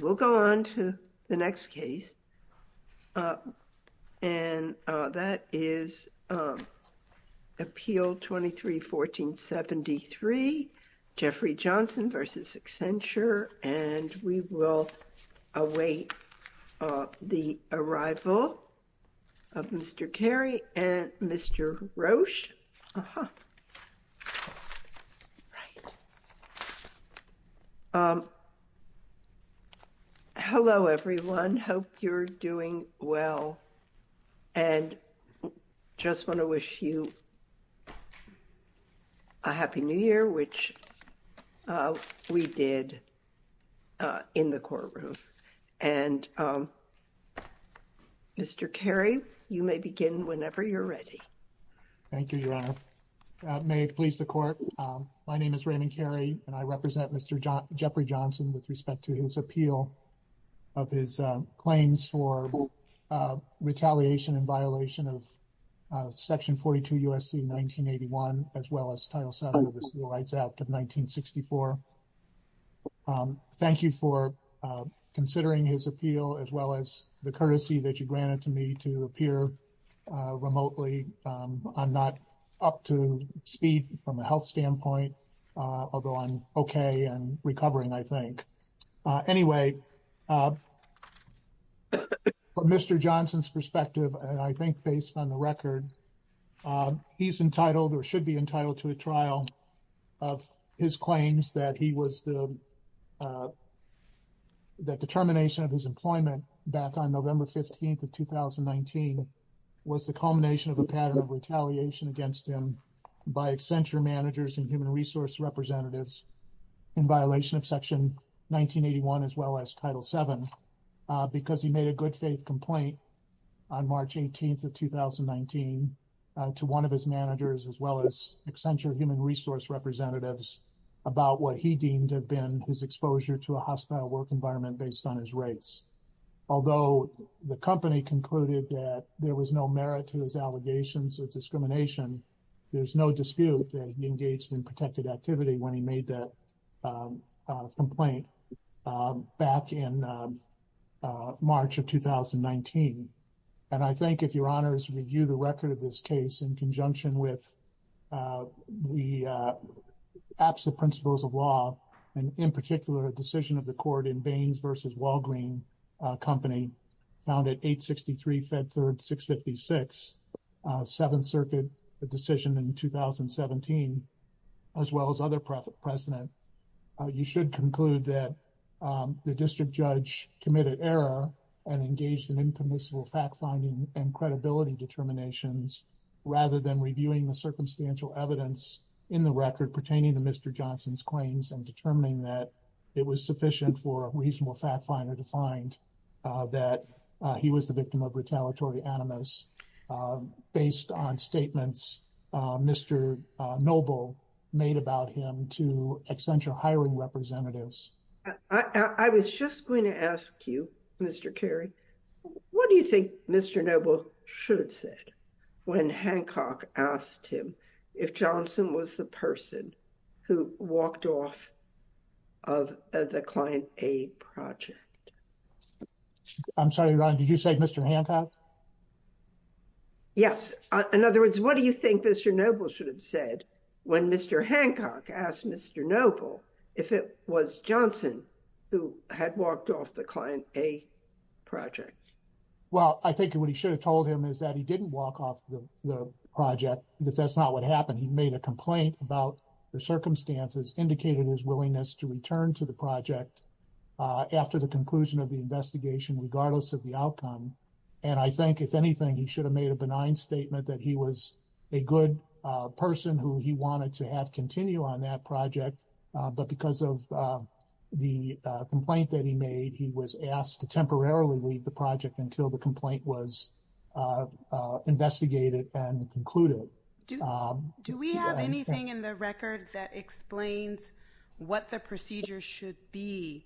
we'll go on to the next case and that is appeal 23 1473 Jeffrey Johnson v. Hello everyone hope you're doing well and just want to wish you a Happy New Year which we did in the courtroom and Mr. Kerry you may begin whenever you're ready. Thank you your honor may it please the court my name is Raymond Kerry and I represent Mr. Jeffrey Johnson with respect to his appeal of his claims for retaliation and violation of section 42 USC 1981 as well as title 7 of the Civil Rights Act of 1964. Thank you for considering his appeal as well as the courtesy that you granted to me to appear remotely I'm not up to speed from a health standpoint although I'm okay and recovering I think anyway Mr. He explained to me that he was the. That determination of his employment back on November 15th of 2019 was the culmination of a pattern of retaliation against him by Accenture managers and human resource representatives. In violation of section 1981 as well as title 7. Because he made a good faith complaint on March 18th of 2019. To 1 of his managers as well as Accenture human resource representatives. About what he deemed have been his exposure to a hostile work environment based on his rates. Although the company concluded that there was no merit to his allegations of discrimination. There's no dispute that he engaged in protected activity when he made that. Complaint back in March of 2019. And I think if your honors review the record of this case in conjunction with. The absolute principles of law, and in particular, a decision of the court in Baines versus Walgreen company. Found it 863 fed 3rd, 656 7th circuit decision in 2017. As well as other profit precedent, you should conclude that. The district judge committed error and engaged in impermissible fact finding and credibility determinations. Rather than reviewing the circumstantial evidence in the record pertaining to Mr. Johnson's claims and determining that. It was sufficient for a reasonable fact finder defined. That he was the victim of retaliatory animus based on statements. Mr noble made about him to Accenture hiring representatives. I was just going to ask you, Mr. Kerry. What do you think? Mr noble should sit when Hancock asked him if Johnson was the person. Who walked off of the client a project. I'm sorry, did you say Mr. Hancock? Yes, in other words, what do you think? Mr noble should have said when Mr Hancock asked Mr noble if it was Johnson. Who had walked off the client a project. Well, I think what he should have told him is that he didn't walk off the project. That's not what happened. He made a complaint about the circumstances indicated his willingness to return to the project. After the conclusion of the investigation, regardless of the outcome, and I think if anything, he should have made a benign statement that he was a good person who he wanted to have continue on that project. But because of the complaint that he made, he was asked to temporarily leave the project until the complaint was investigated and concluded. Do we have anything in the record that explains what the procedure should be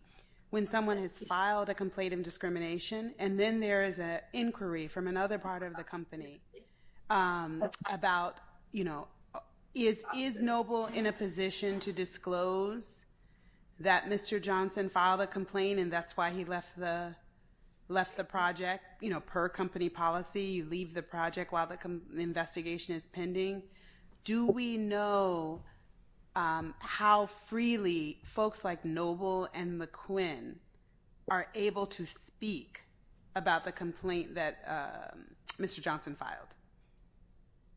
when someone has filed a complaint of discrimination? And then there is a inquiry from another part of the company. About, you know, is is noble in a position to disclose that Mr Johnson filed a complaint and that's why he left the. Left the project, you know, per company policy, you leave the project while the investigation is pending. Do we know how freely folks like noble and McQuinn. Are able to speak about the complaint that Mr Johnson filed.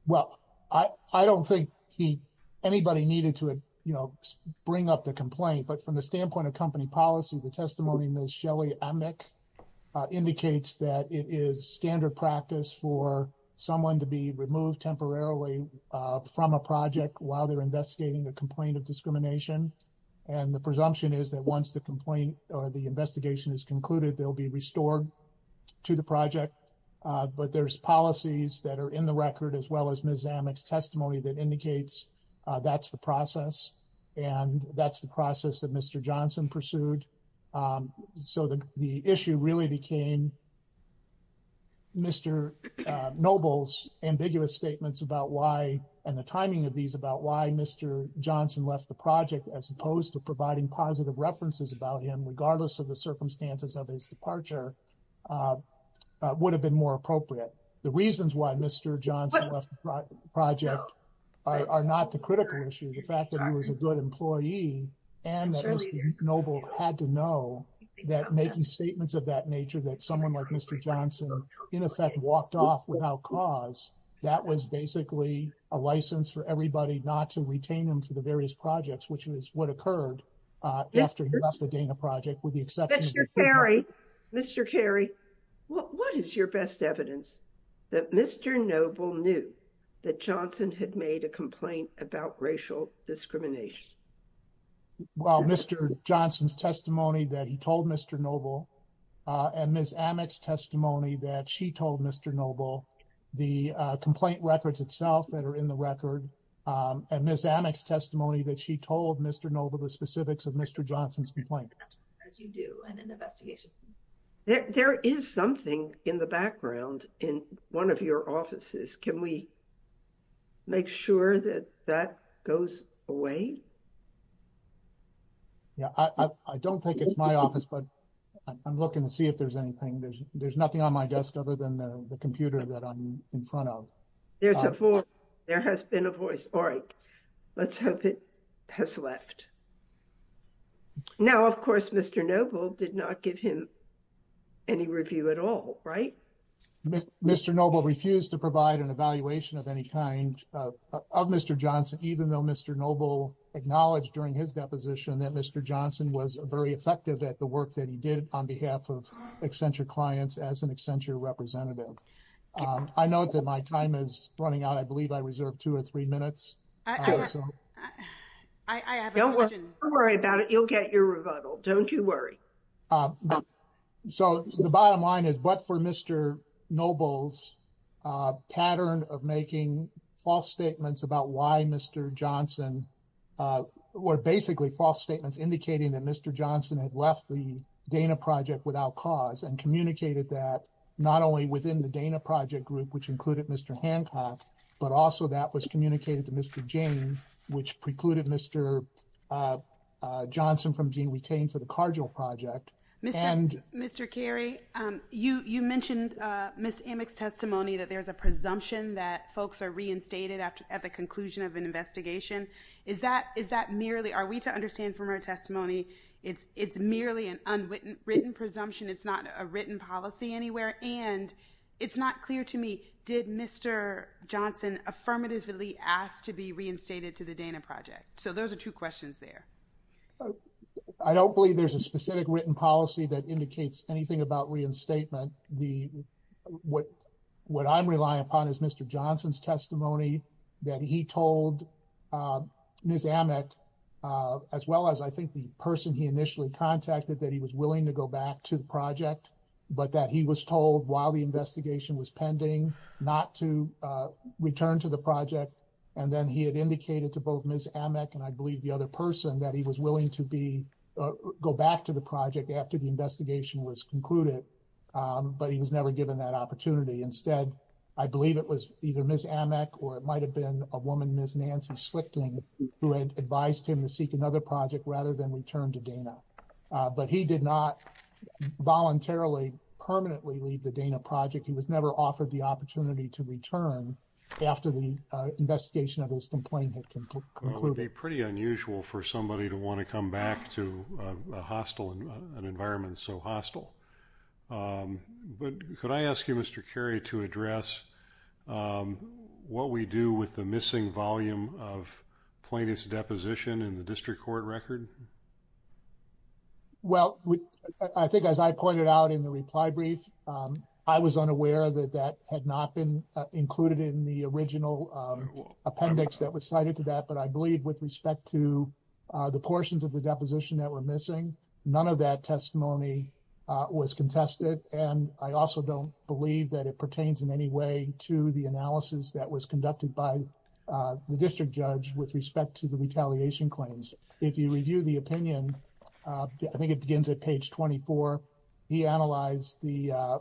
Well, I don't think he anybody needed to bring up the complaint, but from the standpoint of company policy, the testimony indicates that it is standard practice for someone to be removed temporarily from a project while they're investigating a complaint of discrimination. And the presumption is that once the complaint, or the investigation is concluded, there'll be restored. To the project, but there's policies that are in the record as well as Ms testimony that indicates that's the process and that's the process that Mr Johnson pursued. So, the issue really became. Mr noble's ambiguous statements about why and the timing of these about why Mr Johnson left the project, as opposed to providing positive references about him, regardless of the circumstances of his departure. Would have been more appropriate. The reasons why Mr Johnson left the project are not the critical issue. The fact that he was a good employee and noble had to know. That making statements of that nature that someone like Mr Johnson, in effect, walked off without cause that was basically a license for everybody not to retain them to the various projects, which was what occurred after the Dana project with the exception. Mr. Kerry, what is your best evidence? That Mr noble knew that Johnson had made a complaint about racial discrimination. Well, Mr Johnson's testimony that he told Mr noble. And Ms testimony that she told Mr noble. The complaint records itself that are in the record and Ms testimony that she told Mr noble the specifics of Mr Johnson's complaint as you do and an investigation. There is something in the background in 1 of your offices. Can we. Make sure that that goes away. Yeah, I don't think it's my office, but I'm looking to see if there's anything there's, there's nothing on my desk other than the computer that I'm in front of. There's a 4 there has been a voice. All right. Let's hope it. Has left now, of course, Mr noble did not give him. Any review at all, right? Mr. noble refused to provide an evaluation of any kind of Mr. Johnson, even though Mr. noble acknowledged during his deposition that Mr. Johnson was very effective at the work that he did on behalf of eccentric clients as an extension representative. I know that my time is running out. I believe I reserved 2 or 3 minutes. I don't worry about it. You'll get your rebuttal. Don't you worry. So, the bottom line is, but for Mr. noble's. Pattern of making false statements about why Mr. Johnson. Uh, we're basically false statements, indicating that Mr. Johnson had left the Dana project without cause and communicated that not only within the Dana project group, which included Mr. Hancock, but also that was communicated to Mr. Jane, which precluded Mr. Johnson from being retained for the cardinal project and Mr. Kerry, you mentioned Ms. Amick's testimony that there's a presumption that folks are reinstated after at the conclusion of an investigation. Is that is that merely are we to understand from our testimony? It's it's merely an unwitting written presumption. It's not a written policy anywhere. And it's not clear to me. Did Mr Johnson affirmatively asked to be reinstated to the Dana project? So, those are 2 questions there. I don't believe there's a specific written policy that indicates anything about reinstatement. The what what I'm relying upon is Mr. Johnson's testimony. That he told Ms. Amick as well as I think the person he initially contacted that he was willing to go back to the project. But that he was told while the investigation was pending not to return to the project. And then he had indicated to both Ms. Amick and I believe the other person that he was willing to be. Go back to the project after the investigation was concluded. But he was never given that opportunity. Instead, I believe it was either Ms. Amick, or it might have been a woman, Ms. Nancy Slickton, who had advised him to seek another project rather than return to Dana. But he did not voluntarily permanently leave the Dana project. He was never offered the opportunity to return after the investigation of his complaint. It can be pretty unusual for somebody to want to come back to a hostile environment. So, hostile. But could I ask you, Mr. Carey, to address what we do with the missing volume of plaintiff's deposition in the district court record? Well, I think, as I pointed out in the reply brief. I was unaware that that had not been included in the original appendix that was cited to that. But I believe with respect to the portions of the deposition that were missing, none of that testimony was contested. And I also don't believe that it pertains in any way to the analysis that was conducted by the district judge with respect to the retaliation claims. If you review the opinion, I think it begins at page 24. He analyzed the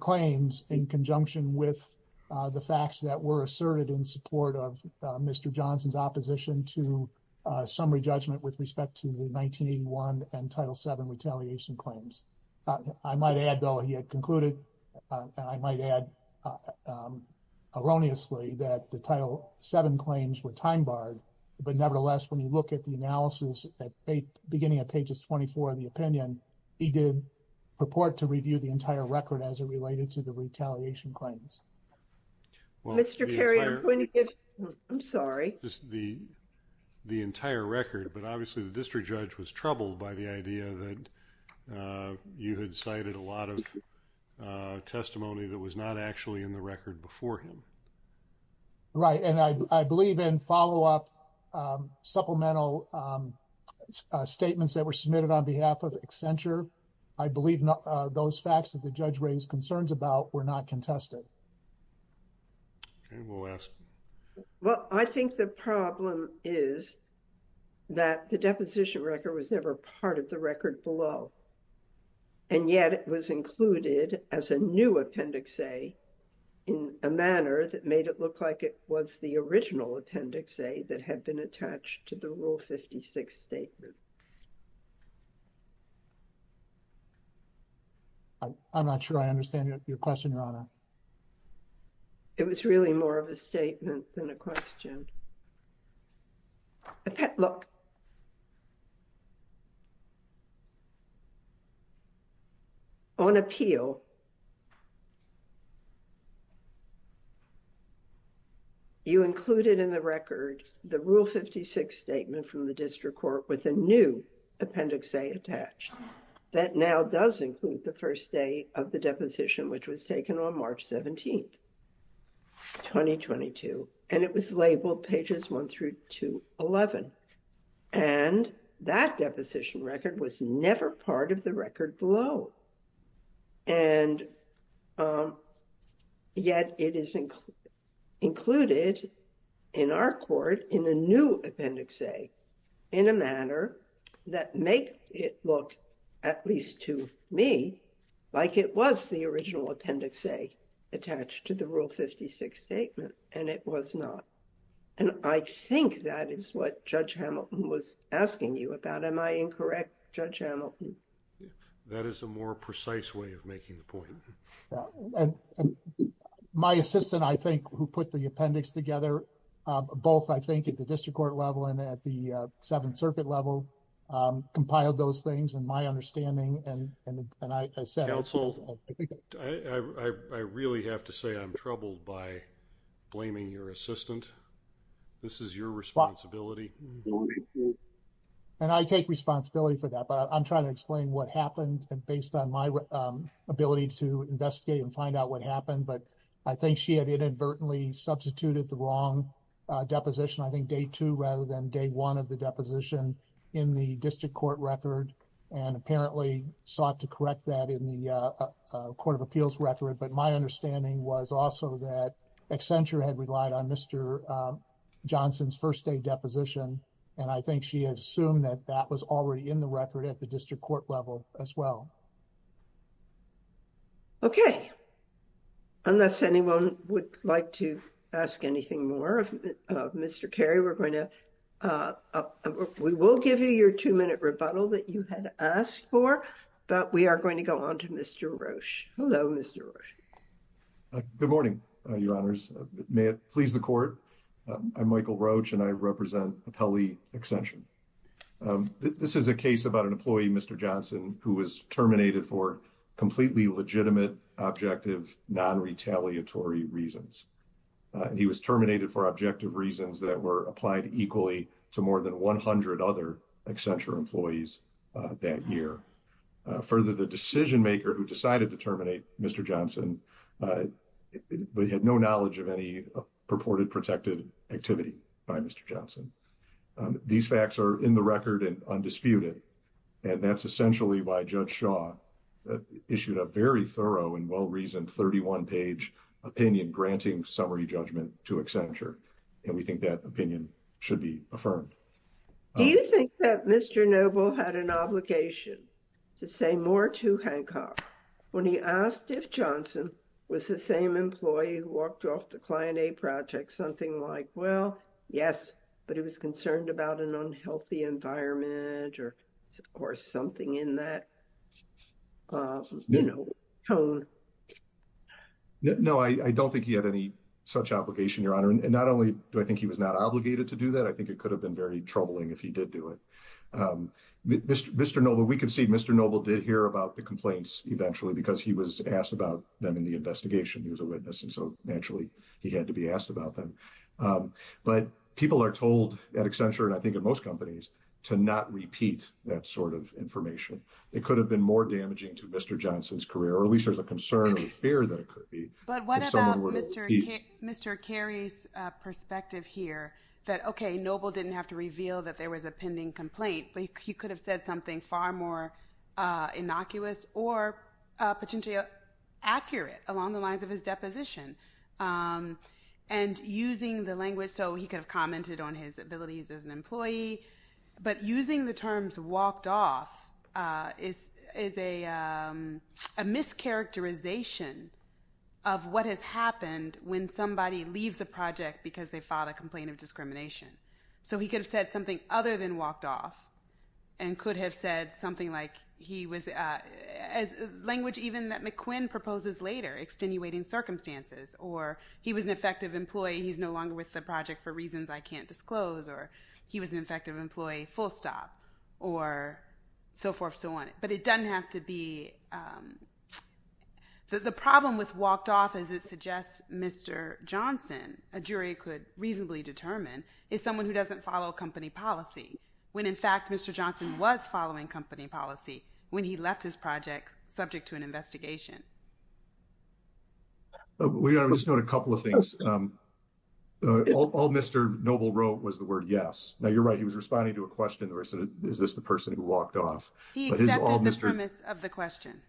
claims in conjunction with the facts that were asserted in support of Mr. Johnson's opposition to summary judgment with respect to the 1981 and Title VII retaliation claims. I might add, though, he had concluded, and I might add erroneously, that the Title VII claims were time-barred. But nevertheless, when you look at the analysis at the beginning of pages 24 of the opinion, he did purport to review the entire record as it related to the retaliation claims. Mr. Carey, I'm going to give you the entire record, but obviously the district judge was troubled by the idea that you had cited a lot of testimony that was not actually in the record before him. Right. And I believe in follow-up supplemental statements that were submitted on behalf of Accenture, I believe those facts that the judge raised concerns about were not contested. Okay. We'll ask. Well, I think the problem is that the deposition record was never part of the record below, and yet it was included as a new Appendix A in a manner that made it look like it was the original Appendix A that had been attached to the Rule 56 statement. I'm not sure I understand your question, Your Honor. It was really more of a statement than a question. Look, on appeal, you included in the record the Rule 56 statement from the district court with a new Appendix A attached. That now does include the first day of the deposition, which was taken on March 17th, 2022. And it was labeled pages 1 through to 11. And that deposition record was never part of the record below, and yet it is included in our court in a new Appendix A in a manner that make it look at least to me like it was the original Appendix A attached to the Rule 56 statement. And it was not. And I think that is what Judge Hamilton was asking you about. Am I incorrect, Judge Hamilton? That is a more precise way of making the point. My assistant, I think, who put the appendix together, both I think at the district court level and at the Seventh Circuit level, compiled those things in my understanding and I said... Blaming your assistant. This is your responsibility. And I take responsibility for that. But I'm trying to explain what happened based on my ability to investigate and find out what happened. But I think she had inadvertently substituted the wrong deposition. I think day two rather than day one of the deposition in the district court record and apparently sought to correct that in the court of appeals record. But my understanding was also that Accenture had relied on Mr. Johnson's first day deposition and I think she had assumed that that was already in the record at the district court level as well. Okay. Unless anyone would like to ask anything more of Mr. Kerry, we're going to... We will give you your two-minute rebuttal that you had asked for, but we are going to go on to Mr. Roche. Hello, Mr. Roche. Good morning, Your Honors. May it please the court. I'm Michael Roche and I represent Appellee Accenture. This is a case about an employee, Mr. Johnson, who was terminated for completely legitimate, objective, non-retaliatory reasons. He was terminated for objective reasons that were applied equally to more than 100 other Accenture employees that year. Further, the decision-maker who decided to terminate Mr. Johnson had no knowledge of any purported protected activity by Mr. Johnson. These facts are in the record and undisputed and that's essentially why Judge Shaw issued a very thorough and well-reasoned 31-page opinion granting summary judgment to Accenture and we think that opinion should be affirmed. Do you think that Mr. Noble had an obligation to say more to Hancock when he asked if Johnson was the same employee who walked off the client aid project, something like, well, yes, but he was concerned about an unhealthy environment or something in that, you know, tone? No, I don't think he had any such obligation, Your Honor. Not only do I think he was not obligated to do that, I think it could have been very troubling if he did do it. Mr. Noble, we can see Mr. Noble did hear about the complaints eventually because he was asked about them in the investigation. He was a witness and so naturally he had to be asked about them. But people are told at Accenture and I think in most companies to not repeat that sort of information. It could have been more damaging to Mr. Johnson's career or at least there's a concern or fear that it could be. But what about Mr. Kerry's perspective here that, okay, Noble didn't have to reveal that there was a pending complaint, but he could have said something far more innocuous or potentially accurate along the lines of his deposition. And using the language so he could have commented on his abilities as an employee, but using the terms walked off is a mischaracterization of what has happened when somebody leaves a project because they filed a complaint of discrimination. So he could have said something other than walked off and could have said something like he was, as language even that McQuinn proposes later, extenuating circumstances. Or he was an effective employee, he's no longer with the project for reasons I can't disclose. Or he was an effective employee, full stop. Or so forth, so on. But it doesn't have to be, the problem with walked off as it suggests Mr. Johnson, a jury could reasonably determine, is someone who doesn't follow company policy. When in fact Mr. Johnson was following company policy when he left his project subject to an investigation. We are just doing a couple of things. All Mr. Noble wrote was the word yes. Now you're right, he was responding to a question where I said, is this the person who walked off? He accepted the premise of the question.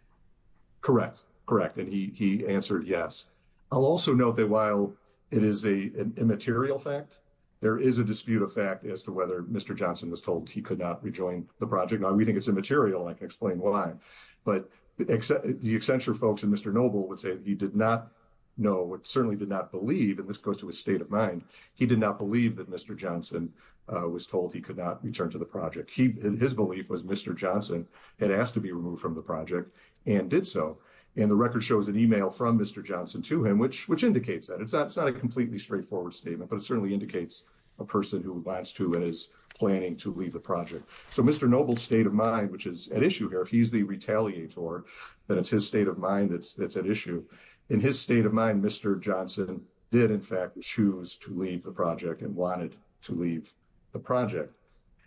Correct, correct. And he answered yes. I'll also note that while it is an immaterial fact, there is a dispute of fact as to whether Mr. Johnson was told he could not rejoin the project. Now we think it's immaterial and I can explain why. But the Accenture folks and Mr. Noble would say he did not know, certainly did not believe, and this goes to his state of mind, he did not believe that Mr. Johnson was told he could not return to the project. His belief was Mr. Johnson had asked to be removed from the project and did so. And the record shows an email from Mr. Johnson to him, which indicates that. It's not a completely straightforward statement, but it certainly indicates a person who wants to and is planning to leave the project. So Mr. Noble's state of mind, which is at issue here, if he's the retaliator, then it's his state of mind that's at issue. In his state of mind, Mr. Johnson did in fact choose to leave the project and wanted to leave the project.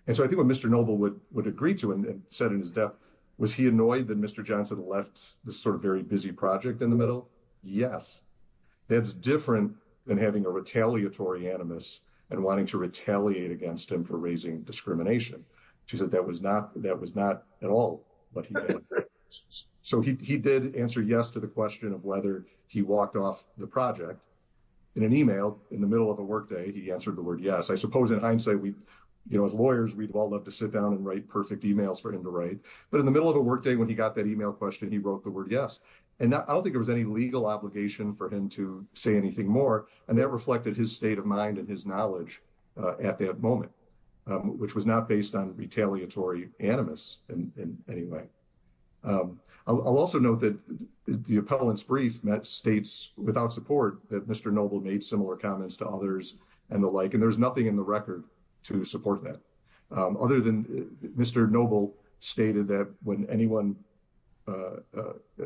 And so I think what Mr. Noble would agree to and said in his death, was he annoyed that Mr. Johnson left this sort of very busy project in the middle? Yes. That's different than having a retaliatory animus and wanting to retaliate against him for raising discrimination. She said that was not at all what he did. So he did answer yes to the question of whether he walked off the project. In an email in the middle of a workday, he answered the word yes. I suppose in hindsight, as lawyers, we'd all love to sit down and write perfect emails for him to write. But in the middle of a workday, when he got that email question, he wrote the word yes. And I don't think there was any legal obligation for him to say anything more. And that reflected his state of mind and his knowledge at that moment, which was not based on retaliatory animus in any way. I'll also note that the appellant's brief met states without support that Mr. Noble made similar comments to others and the like. There's nothing in the record to support that other than Mr. Noble stated that when anyone, you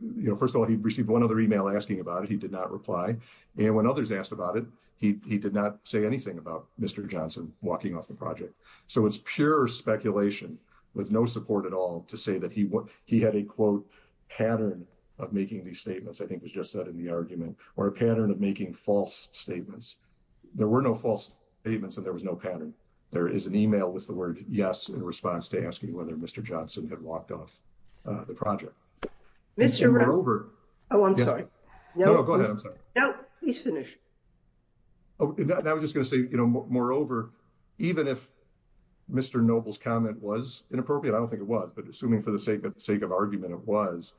know, first of all, he received one other email asking about it. He did not reply. And when others asked about it, he did not say anything about Mr. Johnson walking off the project. So it's pure speculation with no support at all to say that he had a, quote, pattern of making these statements, I think was just said in the argument, or a pattern of making false statements. There were no false statements and there was no pattern. There is an email with the word yes in response to asking whether Mr. Johnson had walked off the project. And moreover. Oh, I'm sorry. No, go ahead. I'm sorry. No, he's finished. I was just going to say, you know, moreover, even if Mr. Noble's comment was inappropriate, I don't think it was, but assuming for the sake of argument it was,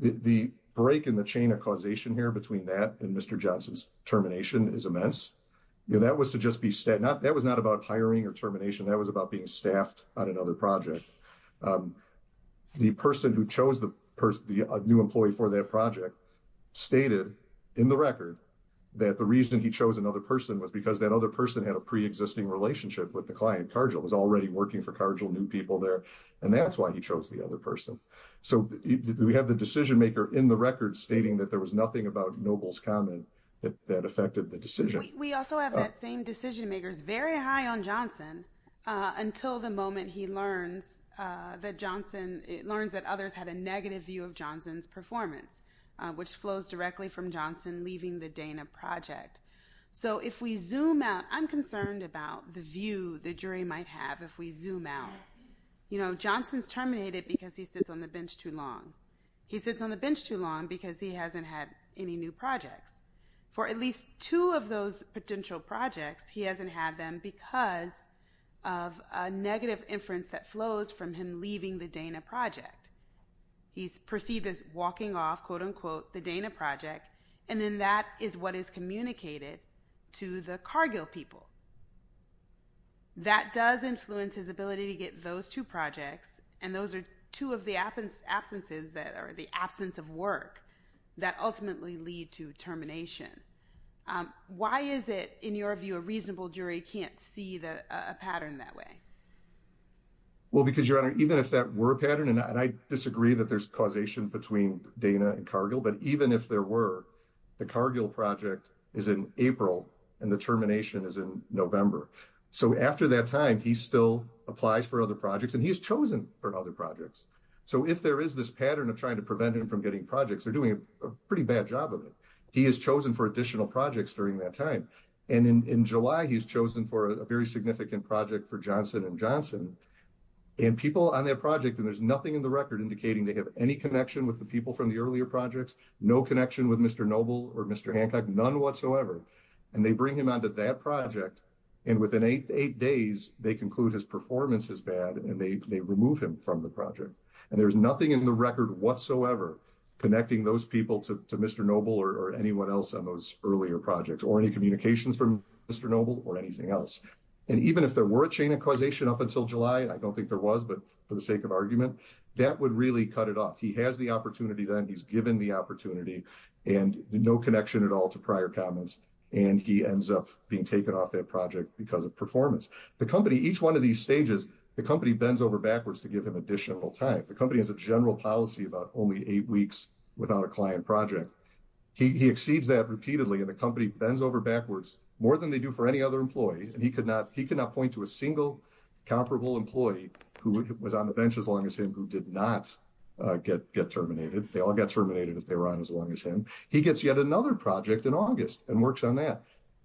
the break in the chain of causation here between that and Mr. Johnson's termination is immense. That was to just be said, that was not about hiring or termination. That was about being staffed on another project. The person who chose the new employee for that project stated in the record that the reason he chose another person was because that other person had a preexisting relationship with the client. Cargill was already working for Cargill, new people there. And that's why he chose the other person. So we have the decision maker in the record stating that there was nothing about Noble's comment that affected the decision. We also have that same decision makers very high on Johnson until the moment he learns that Johnson learns that others had a negative view of Johnson's performance, which flows directly from Johnson leaving the Dana project. So if we zoom out, I'm concerned about the view the jury might have if we zoom out. You know, Johnson's terminated because he sits on the bench too long. He sits on the bench too long because he hasn't had any new projects. For at least two of those potential projects, he hasn't had them because of a negative inference that flows from him leaving the Dana project. He's perceived as walking off, quote unquote, the Dana project. And then that is what is communicated to the Cargill people. That does influence his ability to get those two projects. And those are two of the absence absences that are the absence of work that ultimately lead to termination. Why is it, in your view, a reasonable jury can't see a pattern that way? Well, because, Your Honor, even if that were a pattern, and I disagree that there's causation between Dana and Cargill, but even if there were, the Cargill project is in April and the termination is in November. So, after that time, he still applies for other projects and he's chosen for other projects. So, if there is this pattern of trying to prevent him from getting projects, they're doing a pretty bad job of it. He is chosen for additional projects during that time. And in July, he's chosen for a very significant project for Johnson and Johnson. And people on that project, and there's nothing in the record indicating they have any connection with the people from the earlier projects, no connection with Mr. Noble or Mr. Hancock, none whatsoever. And they bring him onto that project and within eight days, they conclude his performance is bad and they remove him from the project. And there's nothing in the record whatsoever connecting those people to Mr. Noble or anyone else on those earlier projects or any communications from Mr. Noble or anything else. And even if there were a chain of causation up until July, I don't think there was, but for the sake of argument, that would really cut it off. He has the opportunity then, he's given the opportunity and no connection at all to prior comments and he ends up being taken off that project because of performance. The company, each one of these stages, the company bends over backwards to give him additional time. The company has a general policy about only eight weeks without a client project. He exceeds that repeatedly and the company bends over backwards more than they do for any other employee. And he could not point to a single comparable employee who was on the bench as long as him who did not get terminated. They all got terminated if they were on as long as him. He gets yet another project in August and works on that.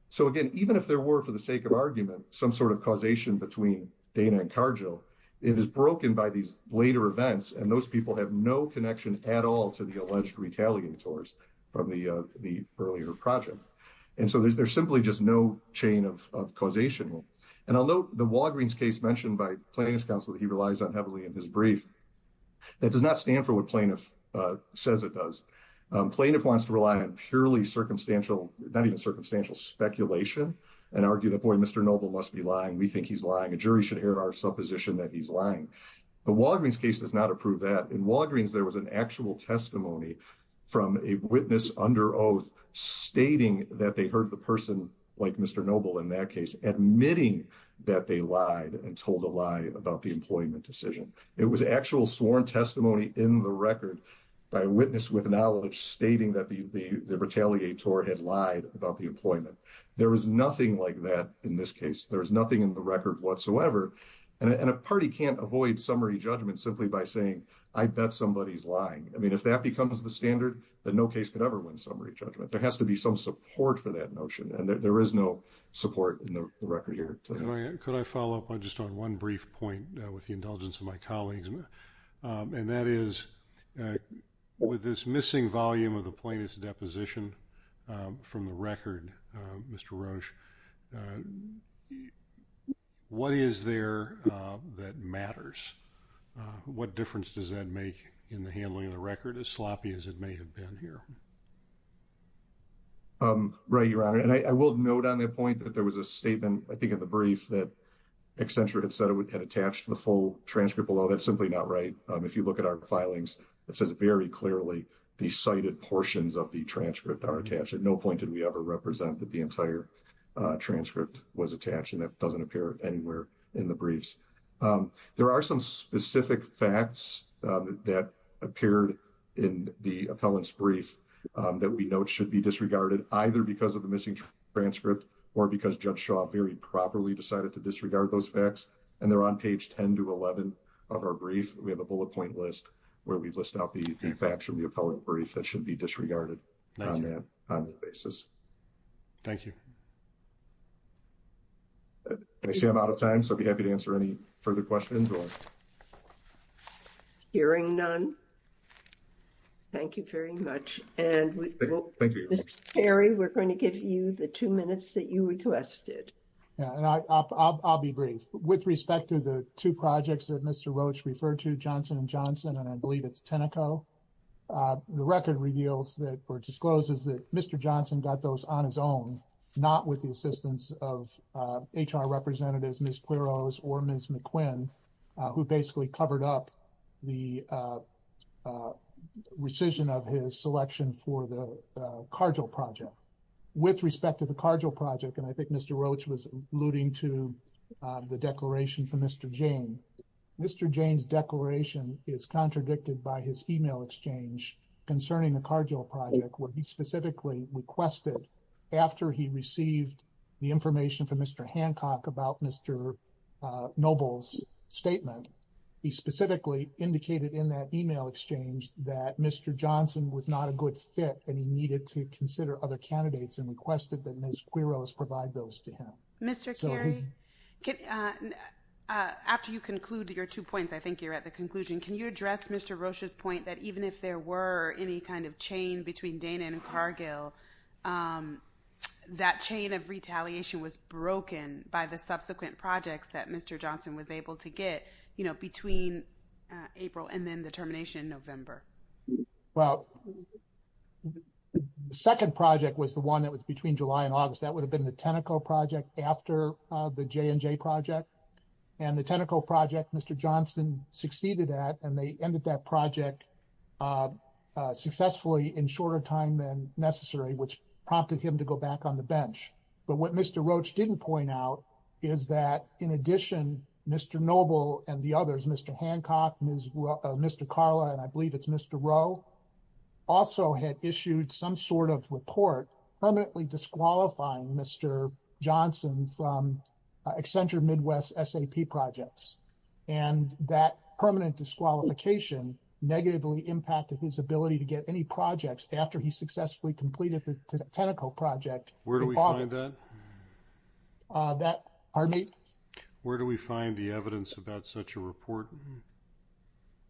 So again, even if there were, for the sake of argument, some sort of causation between Dana and Cargill, it is broken by these later events and those people have no connection at all to the alleged retaliators from the earlier project. And so there's simply just no chain of causation. And I'll note the Walgreens case mentioned by plaintiff's counsel that he relies on heavily in his brief. That does not stand for what plaintiff says it does. Plaintiff wants to rely on purely circumstantial, not even circumstantial speculation and argue that, boy, Mr. Noble must be lying. We think he's lying. A jury should hear our supposition that he's lying. The Walgreens case does not approve that. In Walgreens, there was an actual testimony from a witness under oath stating that they heard the person like Mr. Noble in that case, admitting that they lied and told a lie about the employment decision. It was actual sworn testimony in the record by a witness with knowledge stating that the retaliator had lied about the employment. There was nothing like that in this case. There was nothing in the record whatsoever. And a party can't avoid summary judgment simply by saying, I bet somebody's lying. I mean, if that becomes the standard, then no case could ever win summary judgment. There has to be some support for that notion. And there is no support in the record here. Could I follow up just on one brief point with the indulgence of my colleagues? And that is, with this missing volume of the plaintiff's deposition from the record, Mr. Roche, what is there that matters? What difference does that make in the handling of the record, as sloppy as it may have been here? Right, Your Honor. And I will note on that point that there was a statement, I think, in the brief that Accenture had said it had attached the full transcript below. That's simply not right. If you look at our filings, it says very clearly the cited portions of the transcript are attached. At no point did we ever represent that the entire transcript was attached, and that doesn't appear anywhere in the briefs. There are some specific facts that appeared in the appellant's brief that we note should be disregarded, either because of the missing transcript or because Judge Shaw very properly decided to disregard those facts. And they're on page 10 to 11 of our brief. We have a bullet point list where we list out the facts from the appellant brief that should be disregarded on that basis. Thank you. I see I'm out of time, so I'd be happy to answer any further questions. Hearing none, thank you very much. And, Mr. Perry, we're going to give you the two minutes that you requested. Yeah, and I'll be brief. With respect to the two projects that Mr. Roach referred to, Johnson & Johnson, and I believe it's Tenneco, the record reveals or discloses that Mr. Johnson got those on his own, not with the assistance of HR representatives, Ms. Quiroz or Ms. McQuinn, who basically covered up the rescission of his selection for the Cargill project. With respect to the Cargill project, and I think Mr. Roach was alluding to the declaration from Mr. Jane, Mr. Jane's declaration is contradicted by his email exchange concerning the Cargill project, where he specifically requested, after he received the information from Mr. Hancock about Mr. Noble's statement, he specifically indicated in that email exchange that Mr. Johnson was not a good fit and he needed to consider other candidates and requested that Ms. Quiroz provide those to him. Mr. Kerry, after you conclude your two points, I think you're at the conclusion, can you address Mr. Roach's point that even if there were any kind of chain between Dana and Cargill, that chain of retaliation was broken by the subsequent projects that Mr. Johnson was able to get, you know, between April and then the termination in November? Well, the second project was the one that was between July and August. That would have been the Teneco project after the J&J project. And the Teneco project, Mr. Johnson succeeded at, and they ended that project successfully in shorter time than necessary, which prompted him to go back on the bench. But what Mr. Roach didn't point out is that, in addition, Mr. Noble and the others, Mr. Hancock, Mr. Carla, and I believe it's Mr. Rowe, also had issued some sort of report permanently disqualifying Mr. Johnson from Accenture Midwest SAP projects. And that permanent disqualification negatively impacted his ability to get any projects after he successfully completed the Teneco project. Where do we find that? That, pardon me? Where do we find the evidence about such a report?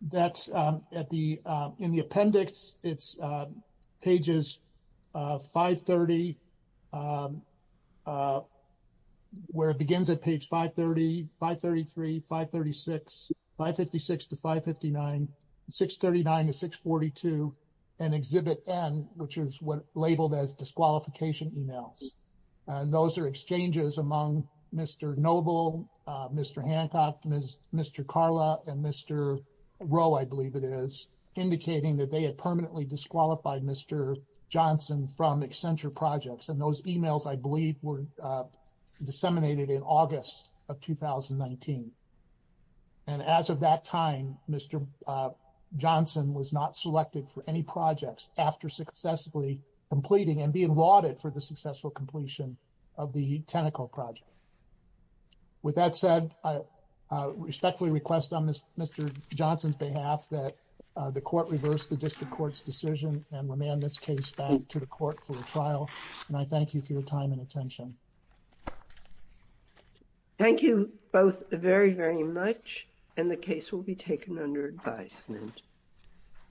That's at the, in the appendix, it's pages 530, 533, 536, 556 to 559, 639 to 642, and Exhibit N, which is what's labeled as disqualification emails. Those are exchanges among Mr. Noble, Mr. Hancock, Mr. Carla, and Mr. Rowe, I believe it is, indicating that they had permanently disqualified Mr. Johnson from Accenture projects. And those emails, I believe, were disseminated in August of 2019. And as of that time, Mr. Johnson was not selected for any projects after successfully completing and being lauded for the successful completion of the Teneco project. So, with that said, I respectfully request on Mr. Johnson's behalf that the court reverse the district court's decision and remand this case back to the court for a trial. And I thank you for your time and attention. Thank you both very, very much, and the case will be taken under advisement.